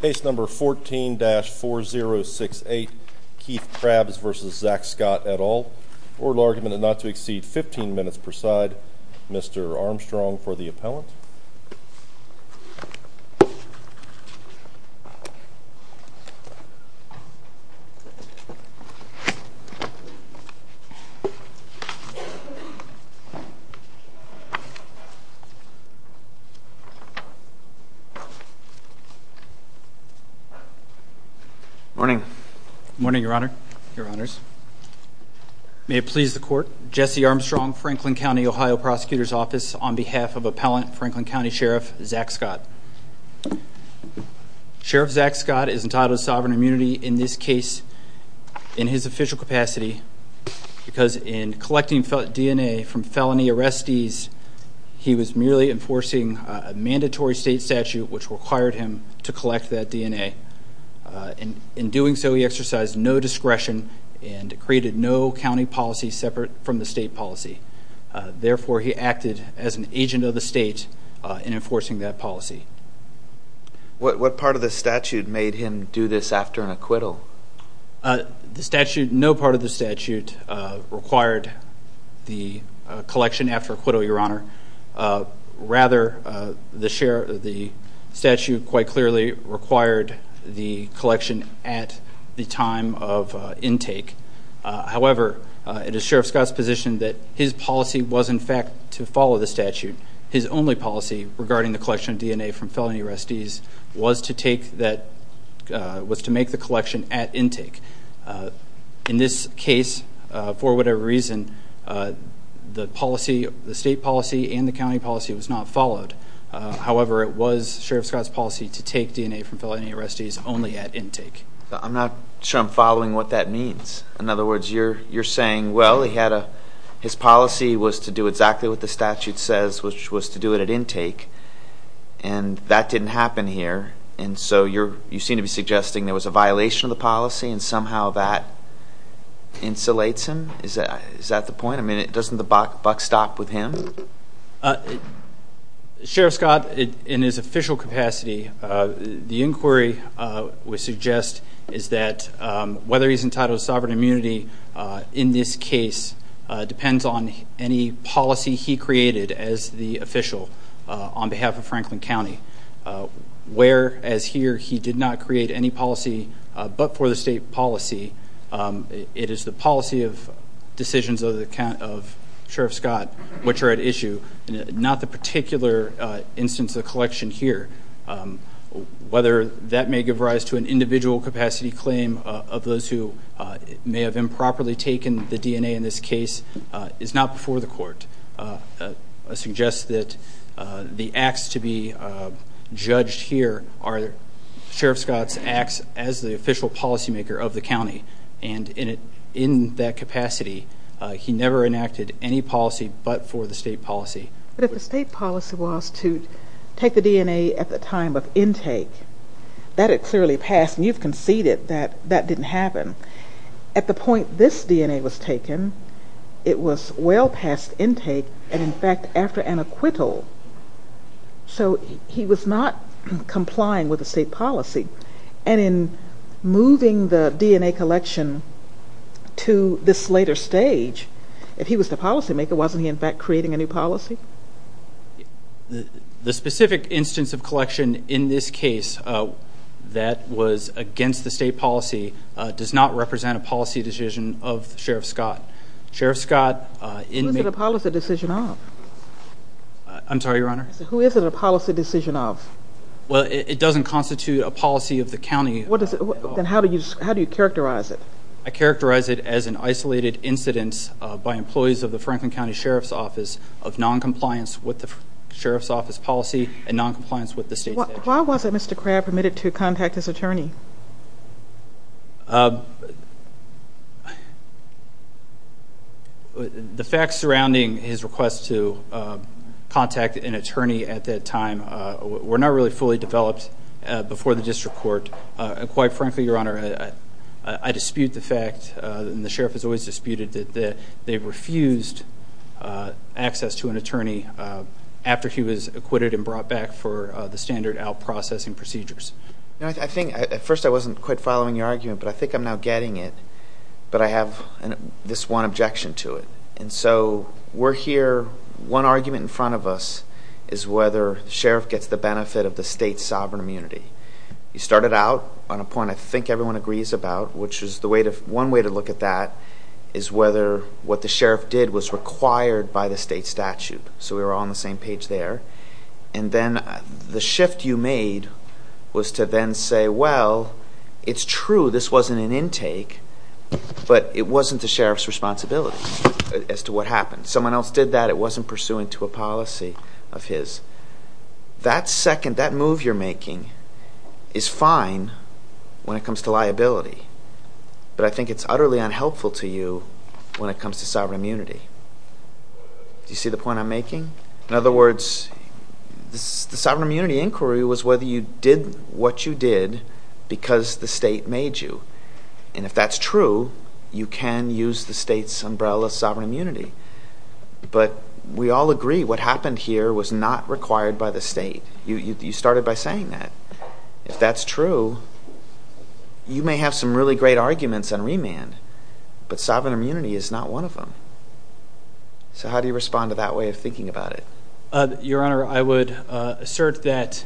Case number 14-4068 Keith Crabbs v. Zach Scott et al. Oral argument not to exceed 15 minutes per side. Mr. Armstrong for the appellant. Morning. Morning, Your Honor. Your Honors. May it please the court. Jesse Armstrong, Franklin County, Ohio Prosecutor's Office on behalf of appellant Franklin County Sheriff Zach Scott. Sheriff Zach Scott is entitled to sovereign immunity in this case in his official capacity because in collecting DNA from felony arrestees, he was merely enforcing a mandatory state statute which required him to collect that DNA. In doing so, he exercised no discretion and created no county policy separate from the state policy. Therefore, he acted as an agent of the state in enforcing that policy. What part of the statute made him do this after an acquittal? No part of the statute required the collection after acquittal, Your Honor. Rather, the statute quite clearly required the collection at the time of intake. However, it is Sheriff Scott's position that his policy was in fact to follow the statute. His only policy regarding the collection of DNA from felony arrestees was to make the collection at intake. In this case, for whatever reason, the state policy and the county policy was not followed. However, it was Sheriff Scott's policy to take DNA from felony arrestees only at intake. I'm not sure I'm following what that means. In other words, you're saying, well, his policy was to do exactly what the statute says, which was to do it at intake, and that didn't happen here. And so you seem to be suggesting there was a violation of the policy and somehow that insulates him? Is that the point? I mean, doesn't the buck stop with him? Sheriff Scott, in his official capacity, the inquiry we suggest is that whether he's entitled to sovereign immunity in this case depends on any policy he created as the official on behalf of Franklin County. Where, as here, he did not create any policy but for the state policy. It is the policy of decisions of Sheriff Scott which are at issue, not the particular instance of collection here. Whether that may give rise to an individual capacity claim of those who may have improperly taken the DNA in this case is not before the court. I suggest that the acts to be judged here are Sheriff Scott's acts as the official policymaker of the county. And in that capacity, he never enacted any policy but for the state policy. But if the state policy was to take the DNA at the time of intake, that had clearly passed and you've conceded that that didn't happen. At the point this DNA was taken, it was well past intake and, in fact, after an acquittal. So he was not complying with the state policy. And in moving the DNA collection to this later stage, if he was the policymaker, wasn't he, in fact, creating a new policy? The specific instance of collection in this case that was against the state policy does not represent a policy decision of Sheriff Scott. Sheriff Scott, in making... Whose did the policy decision of? I'm sorry, Your Honor? Who is it a policy decision of? Well, it doesn't constitute a policy of the county. Then how do you characterize it? I characterize it as an isolated incident by employees of the Franklin County Sheriff's Office of noncompliance with the Sheriff's Office policy and noncompliance with the state statute. Why wasn't Mr. Crabb permitted to contact his attorney? The facts surrounding his request to contact an attorney at that time were not really fully developed before the district court. Quite frankly, Your Honor, I dispute the fact, and the Sheriff has always disputed, that they refused access to an attorney after he was acquitted and brought back for the standard out-processing procedures. At first, I wasn't quite following your argument, but I think I'm now getting it. But I have this one objection to it. And so we're here. One argument in front of us is whether the sheriff gets the benefit of the state's sovereign immunity. You started out on a point I think everyone agrees about, which is one way to look at that is whether what the sheriff did was required by the state statute. So we were all on the same page there. And then the shift you made was to then say, well, it's true, this wasn't an intake, but it wasn't the sheriff's responsibility as to what happened. Someone else did that. It wasn't pursuant to a policy of his. That second, that move you're making is fine when it comes to liability. But I think it's utterly unhelpful to you when it comes to sovereign immunity. Do you see the point I'm making? In other words, the sovereign immunity inquiry was whether you did what you did because the state made you. And if that's true, you can use the state's umbrella sovereign immunity. But we all agree what happened here was not required by the state. You started by saying that. If that's true, you may have some really great arguments on remand, but sovereign immunity is not one of them. So how do you respond to that way of thinking about it? Your Honor, I would assert that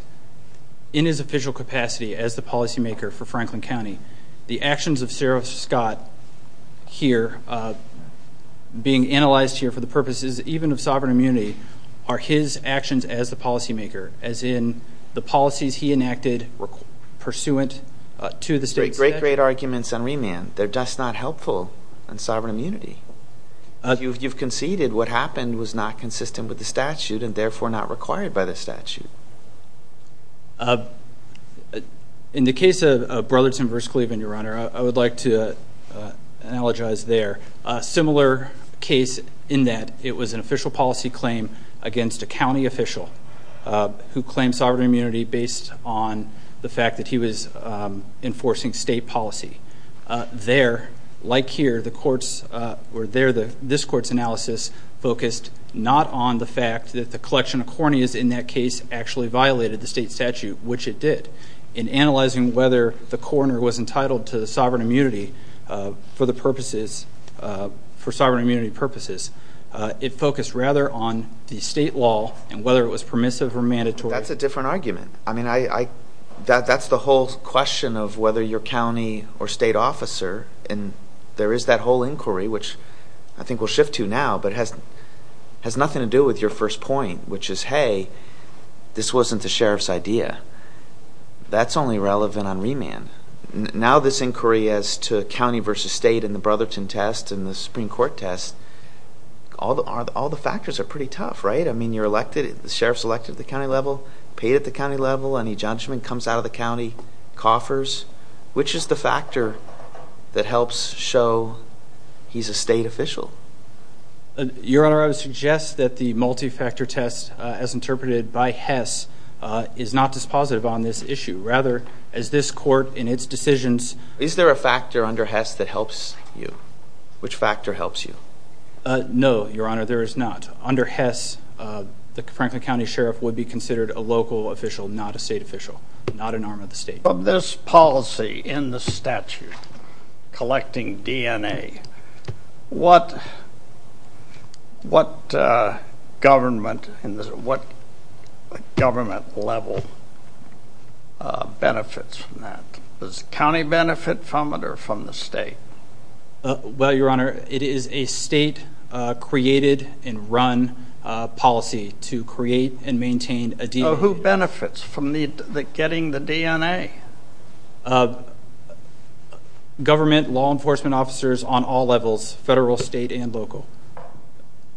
in his official capacity as the policymaker for Franklin County, the actions of Sheriff Scott here being analyzed here for the purposes even of sovereign immunity are his actions as the policymaker, as in the policies he enacted pursuant to the state statute. Great, great arguments on remand. They're just not helpful on sovereign immunity. You've conceded what happened was not consistent with the statute and, therefore, not required by the statute. In the case of Brotherton v. Cleveland, Your Honor, I would like to analogize there a similar case in that it was an official policy claim against a county official who claimed sovereign immunity based on the fact that he was enforcing state policy. There, like here, this Court's analysis focused not on the fact that the collection of corneas in that case actually violated the state statute, which it did. In analyzing whether the coroner was entitled to sovereign immunity for sovereign immunity purposes, it focused rather on the state law and whether it was permissive or mandatory. That's a different argument. That's the whole question of whether you're county or state officer, and there is that whole inquiry, which I think we'll shift to now, but it has nothing to do with your first point, which is, hey, this wasn't the sheriff's idea. That's only relevant on remand. Now this inquiry as to county v. state and the Brotherton test and the Supreme Court test, all the factors are pretty tough, right? I mean, you're elected, the sheriff's elected at the county level, paid at the county level, any judgment comes out of the county, coffers. Which is the factor that helps show he's a state official? Your Honor, I would suggest that the multi-factor test, as interpreted by Hess, is not dispositive on this issue. Rather, as this Court in its decisions – Is there a factor under Hess that helps you? Which factor helps you? No, Your Honor, there is not. Under Hess, the Franklin County Sheriff would be considered a local official, not a state official, not an arm of the state. Of this policy in the statute, collecting DNA, what government level benefits from that? Does the county benefit from it or from the state? Well, Your Honor, it is a state-created and run policy to create and maintain a DNA. Who benefits from getting the DNA? Government, law enforcement officers on all levels, federal, state, and local.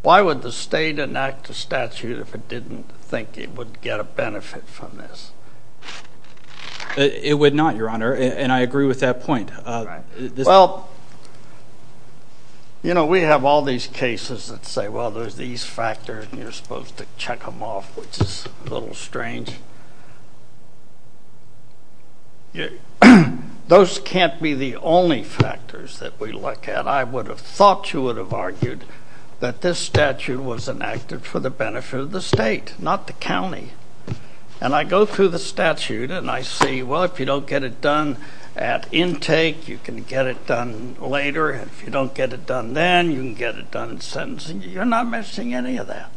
Why would the state enact a statute if it didn't think it would get a benefit from this? It would not, Your Honor, and I agree with that point. Well, you know, we have all these cases that say, well, there's these factors and you're supposed to check them off, which is a little strange. Those can't be the only factors that we look at. I would have thought you would have argued that this statute was enacted for the benefit of the state, not the county. And I go through the statute and I say, well, if you don't get it done at intake, you can get it done later. If you don't get it done then, you can get it done in sentencing. You're not missing any of that.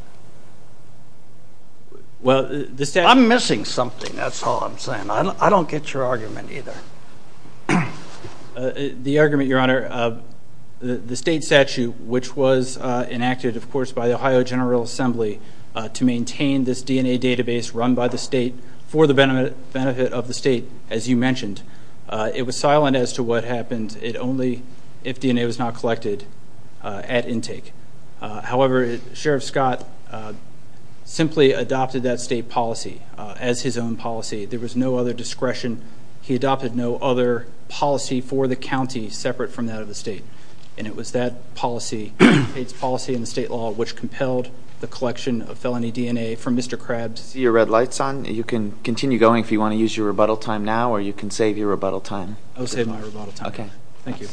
I'm missing something, that's all I'm saying. I don't get your argument either. The argument, Your Honor, the state statute, which was enacted, of course, by the Ohio General Assembly to maintain this DNA database run by the state for the benefit of the state, as you mentioned. It was silent as to what happened, only if DNA was not collected at intake. However, Sheriff Scott simply adopted that state policy as his own policy. There was no other discretion. He adopted no other policy for the county separate from that of the state. And it was that policy, Pate's policy in the state law, which compelled the collection of felony DNA from Mr. Krabs. I see your red lights on. You can continue going if you want to use your rebuttal time now, or you can save your rebuttal time. I will save my rebuttal time. Okay. Thank you.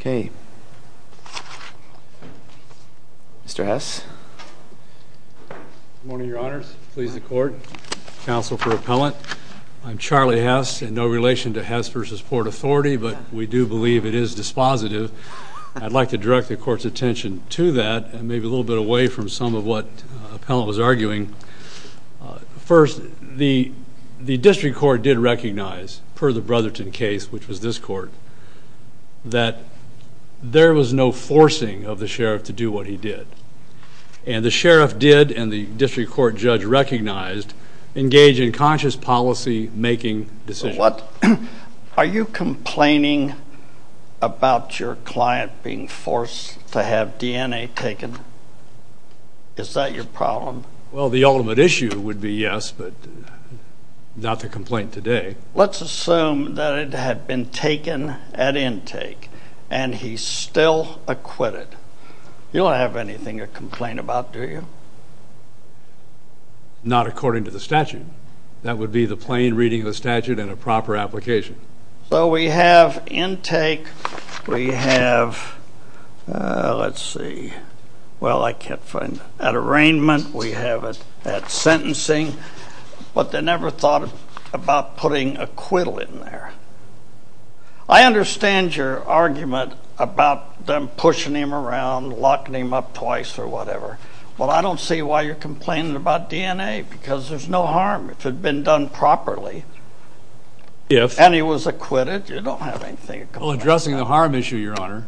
Okay. Mr. Hess. Good morning, Your Honors. Please, the Court. Counsel for Appellant. I'm Charlie Hess in no relation to Hess v. Port Authority, but we do believe it is dispositive. I'd like to direct the Court's attention to that and maybe a little bit away from some of what Appellant was arguing. First, the district court did recognize, per the Brotherton case, which was this court, that there was no forcing of the Sheriff to do what he did. And the Sheriff did, and the district court judge recognized, engage in conscious policy-making decisions. Are you complaining about your client being forced to have DNA taken? Is that your problem? Well, the ultimate issue would be yes, but not to complain today. Let's assume that it had been taken at intake, and he still acquitted. You don't have anything to complain about, do you? Not according to the statute. That would be the plain reading of the statute and a proper application. So we have intake. We have, let's see. Well, I can't find it. At arraignment, we have it at sentencing. But they never thought about putting acquittal in there. I understand your argument about them pushing him around, locking him up twice or whatever. Well, I don't see why you're complaining about DNA, because there's no harm if it had been done properly. And he was acquitted. You don't have anything to complain about. Well, addressing the harm issue, Your Honor,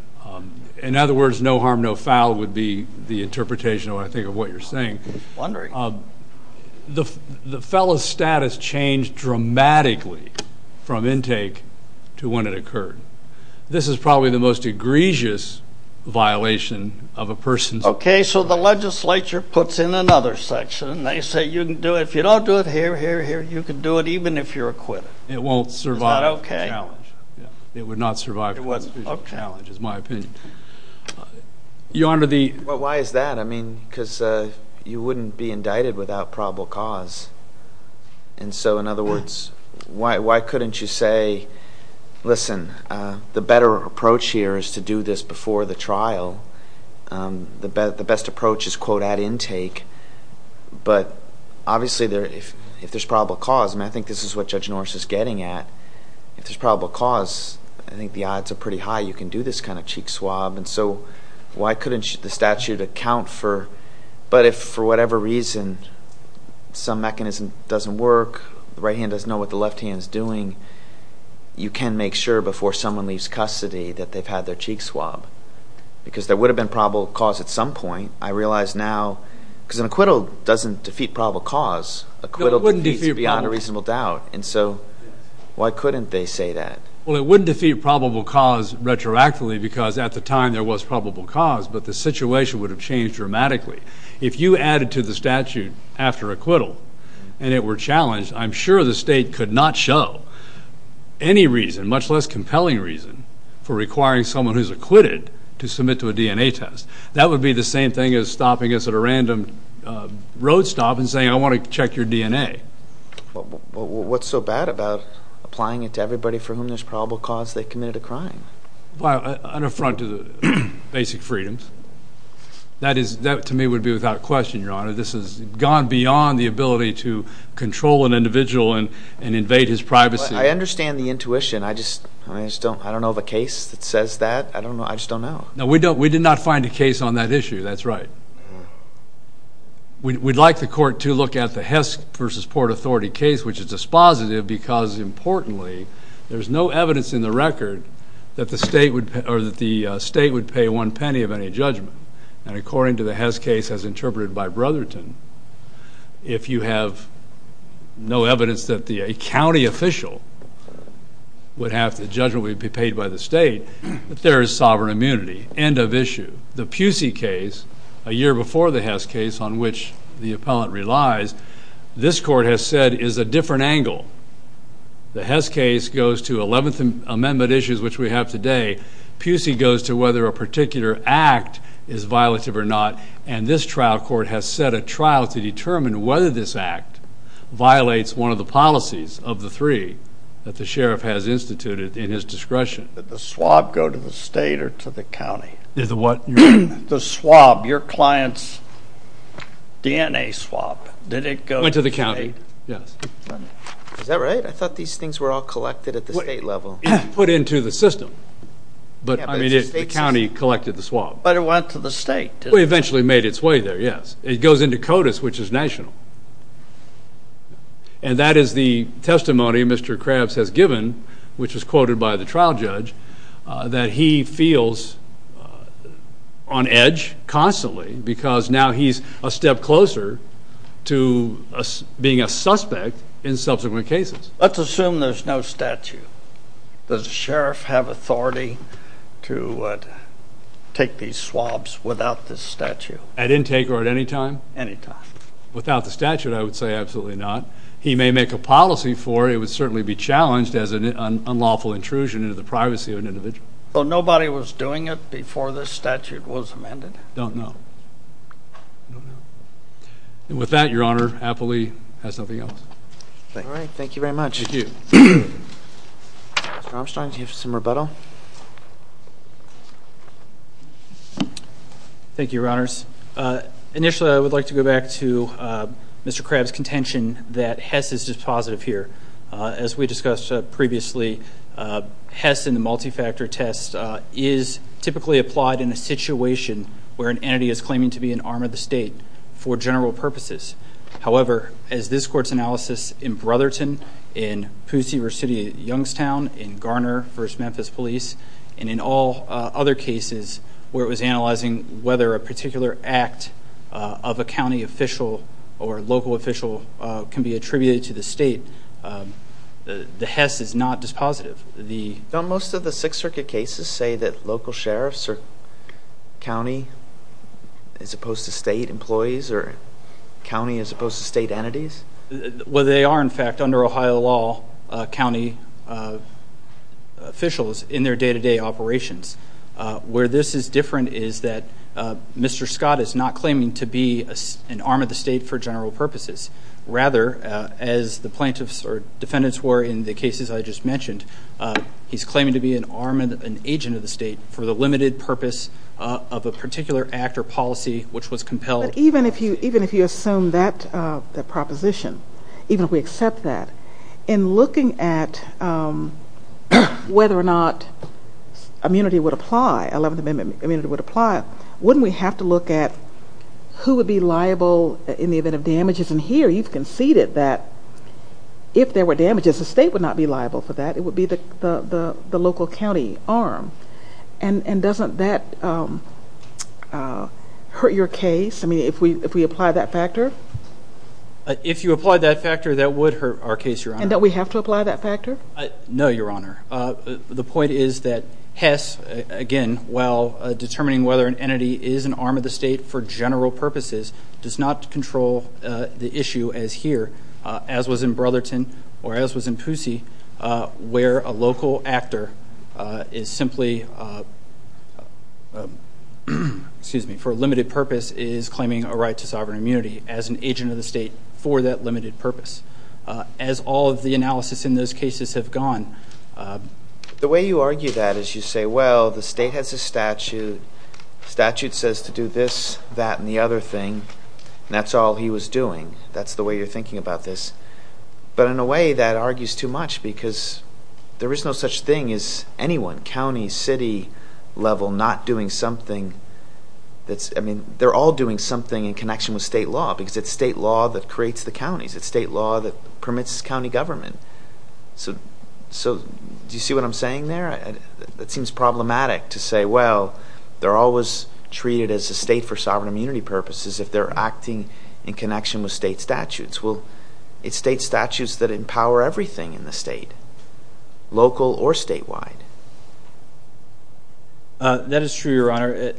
in other words, no harm, no foul, would be the interpretation, I think, of what you're saying. Wondering. The fellow's status changed dramatically from intake to when it occurred. This is probably the most egregious violation of a person's. Okay, so the legislature puts in another section. They say you can do it. If you don't do it here, here, here, you can do it even if you're acquitted. It won't survive the challenge. It would not survive the challenge, is my opinion. Your Honor, the. Well, why is that? I mean, because you wouldn't be indicted without probable cause. And so, in other words, why couldn't you say, listen, the better approach here is to do this before the trial. The best approach is, quote, at intake. But obviously, if there's probable cause, I mean, I think this is what Judge Norris is getting at. If there's probable cause, I think the odds are pretty high you can do this kind of cheek swab. And so why couldn't the statute account for, but if for whatever reason some mechanism doesn't work, the right hand doesn't know what the left hand is doing, you can make sure before someone leaves custody that they've had their cheek swab. Because there would have been probable cause at some point. I realize now, because an acquittal doesn't defeat probable cause. No, it wouldn't defeat probable cause. Acquittal defeats beyond a reasonable doubt. And so why couldn't they say that? Well, it wouldn't defeat probable cause retroactively because at the time there was probable cause, but the situation would have changed dramatically. If you added to the statute after acquittal and it were challenged, I'm sure the state could not show any reason, much less compelling reason, for requiring someone who's acquitted to submit to a DNA test. That would be the same thing as stopping us at a random road stop and saying, I want to check your DNA. Well, what's so bad about applying it to everybody for whom there's probable cause they committed a crime? Well, an affront to basic freedoms. That to me would be without question, Your Honor. This has gone beyond the ability to control an individual and invade his privacy. I understand the intuition. I just don't know of a case that says that. I just don't know. No, we did not find a case on that issue. That's right. We'd like the court to look at the Hess v. Port Authority case, which is dispositive because, importantly, there's no evidence in the record that the state would pay one penny of any judgment. And according to the Hess case as interpreted by Brotherton, if you have no evidence that a county official would have the judgment be paid by the state, there is sovereign immunity. End of issue. The Pusey case, a year before the Hess case on which the appellant relies, this court has said is a different angle. The Hess case goes to 11th Amendment issues, which we have today. Pusey goes to whether a particular act is violative or not. And this trial court has set a trial to determine whether this act violates one of the policies of the three that the sheriff has instituted in his discretion. Did the swab go to the state or to the county? The swab, your client's DNA swab, did it go to the state? Went to the county, yes. Is that right? I thought these things were all collected at the state level. Put into the system. But, I mean, the county collected the swab. But it went to the state. It eventually made its way there, yes. It goes into CODIS, which is national. And that is the testimony Mr. Krabs has given, which was quoted by the trial judge, that he feels on edge constantly because now he's a step closer to being a suspect in subsequent cases. Let's assume there's no statute. Does the sheriff have authority to take these swabs without this statute? At intake or at any time? Any time. Without the statute, I would say absolutely not. He may make a policy for it. It would certainly be challenged as an unlawful intrusion into the privacy of an individual. But nobody was doing it before this statute was amended? I don't know. I don't know. And with that, Your Honor, Appley has nothing else. All right. Thank you very much. Thank you. Mr. Armstrong, do you have some rebuttal? Thank you, Your Honors. Initially, I would like to go back to Mr. Krabs' contention that Hess is dispositive here. As we discussed previously, Hess in the multi-factor test is typically applied in a situation where an entity is claiming to be an arm of the state for general purposes. However, as this court's analysis in Brotherton, in Poussey v. City of Youngstown, in Garner v. Memphis Police, and in all other cases where it was analyzing whether a particular act of a county official or a local official can be attributed to the state, the Hess is not dispositive. Don't most of the Sixth Circuit cases say that local sheriffs are county as opposed to state employees or county as opposed to state entities? Well, they are, in fact, under Ohio law, county officials in their day-to-day operations. Where this is different is that Mr. Scott is not claiming to be an arm of the state for general purposes. Rather, as the plaintiffs or defendants were in the cases I just mentioned, he's claiming to be an agent of the state for the limited purpose of a particular act or policy which was compelled. But even if you assume that proposition, even if we accept that, in looking at whether or not immunity would apply, 11th Amendment immunity would apply, wouldn't we have to look at who would be liable in the event of damages? And here you've conceded that if there were damages, the state would not be liable for that. It would be the local county arm. And doesn't that hurt your case? I mean, if we apply that factor? If you apply that factor, that would hurt our case, Your Honor. And don't we have to apply that factor? No, Your Honor. The point is that Hess, again, while determining whether an entity is an arm of the state for general purposes, does not control the issue as here, as was in Brotherton or as was in Poussey, where a local actor is simply, excuse me, for a limited purpose, is claiming a right to sovereign immunity as an agent of the state for that limited purpose. As all of the analysis in those cases have gone. The way you argue that is you say, well, the state has a statute. The statute says to do this, that, and the other thing. And that's all he was doing. That's the way you're thinking about this. But in a way, that argues too much because there is no such thing as anyone, county, city level, not doing something. I mean, they're all doing something in connection with state law because it's state law that creates the counties. It's state law that permits county government. So do you see what I'm saying there? It seems problematic to say, well, they're always treated as a state for sovereign immunity purposes if they're acting in connection with state statutes. Well, it's state statutes that empower everything in the state, local or statewide. That is true, Your Honor.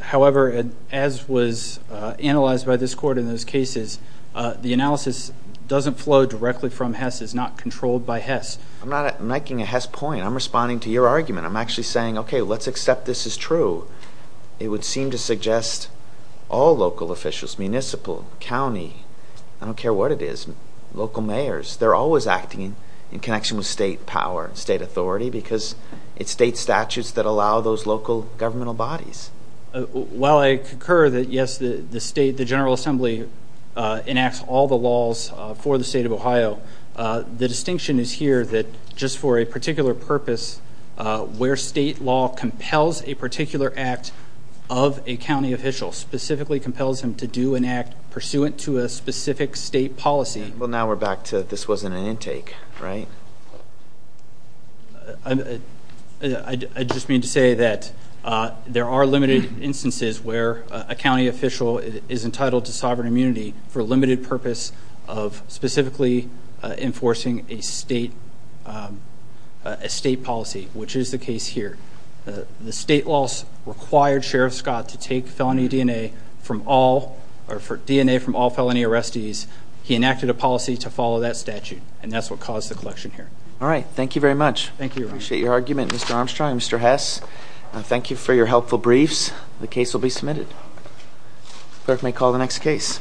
However, as was analyzed by this court in those cases, the analysis doesn't flow directly from Hess. It's not controlled by Hess. I'm not making a Hess point. I'm responding to your argument. I'm actually saying, okay, let's accept this is true. It would seem to suggest all local officials, municipal, county, I don't care what it is, local mayors, they're always acting in connection with state power and state authority because it's state statutes that allow those local governmental bodies. While I concur that, yes, the state, the General Assembly, enacts all the laws for the state of Ohio, the distinction is here that just for a particular purpose, where state law compels a particular act of a county official, specifically compels him to do an act pursuant to a specific state policy. Well, now we're back to this wasn't an intake, right? I just mean to say that there are limited instances where a county official is entitled to sovereign immunity for a limited purpose of specifically enforcing a state policy, which is the case here. The state laws required Sheriff Scott to take DNA from all felony arrestees. He enacted a policy to follow that statute, and that's what caused the collection here. All right. Thank you very much. Thank you. I appreciate your argument, Mr. Armstrong and Mr. Hess. The case will be submitted. Clerk may call the next case.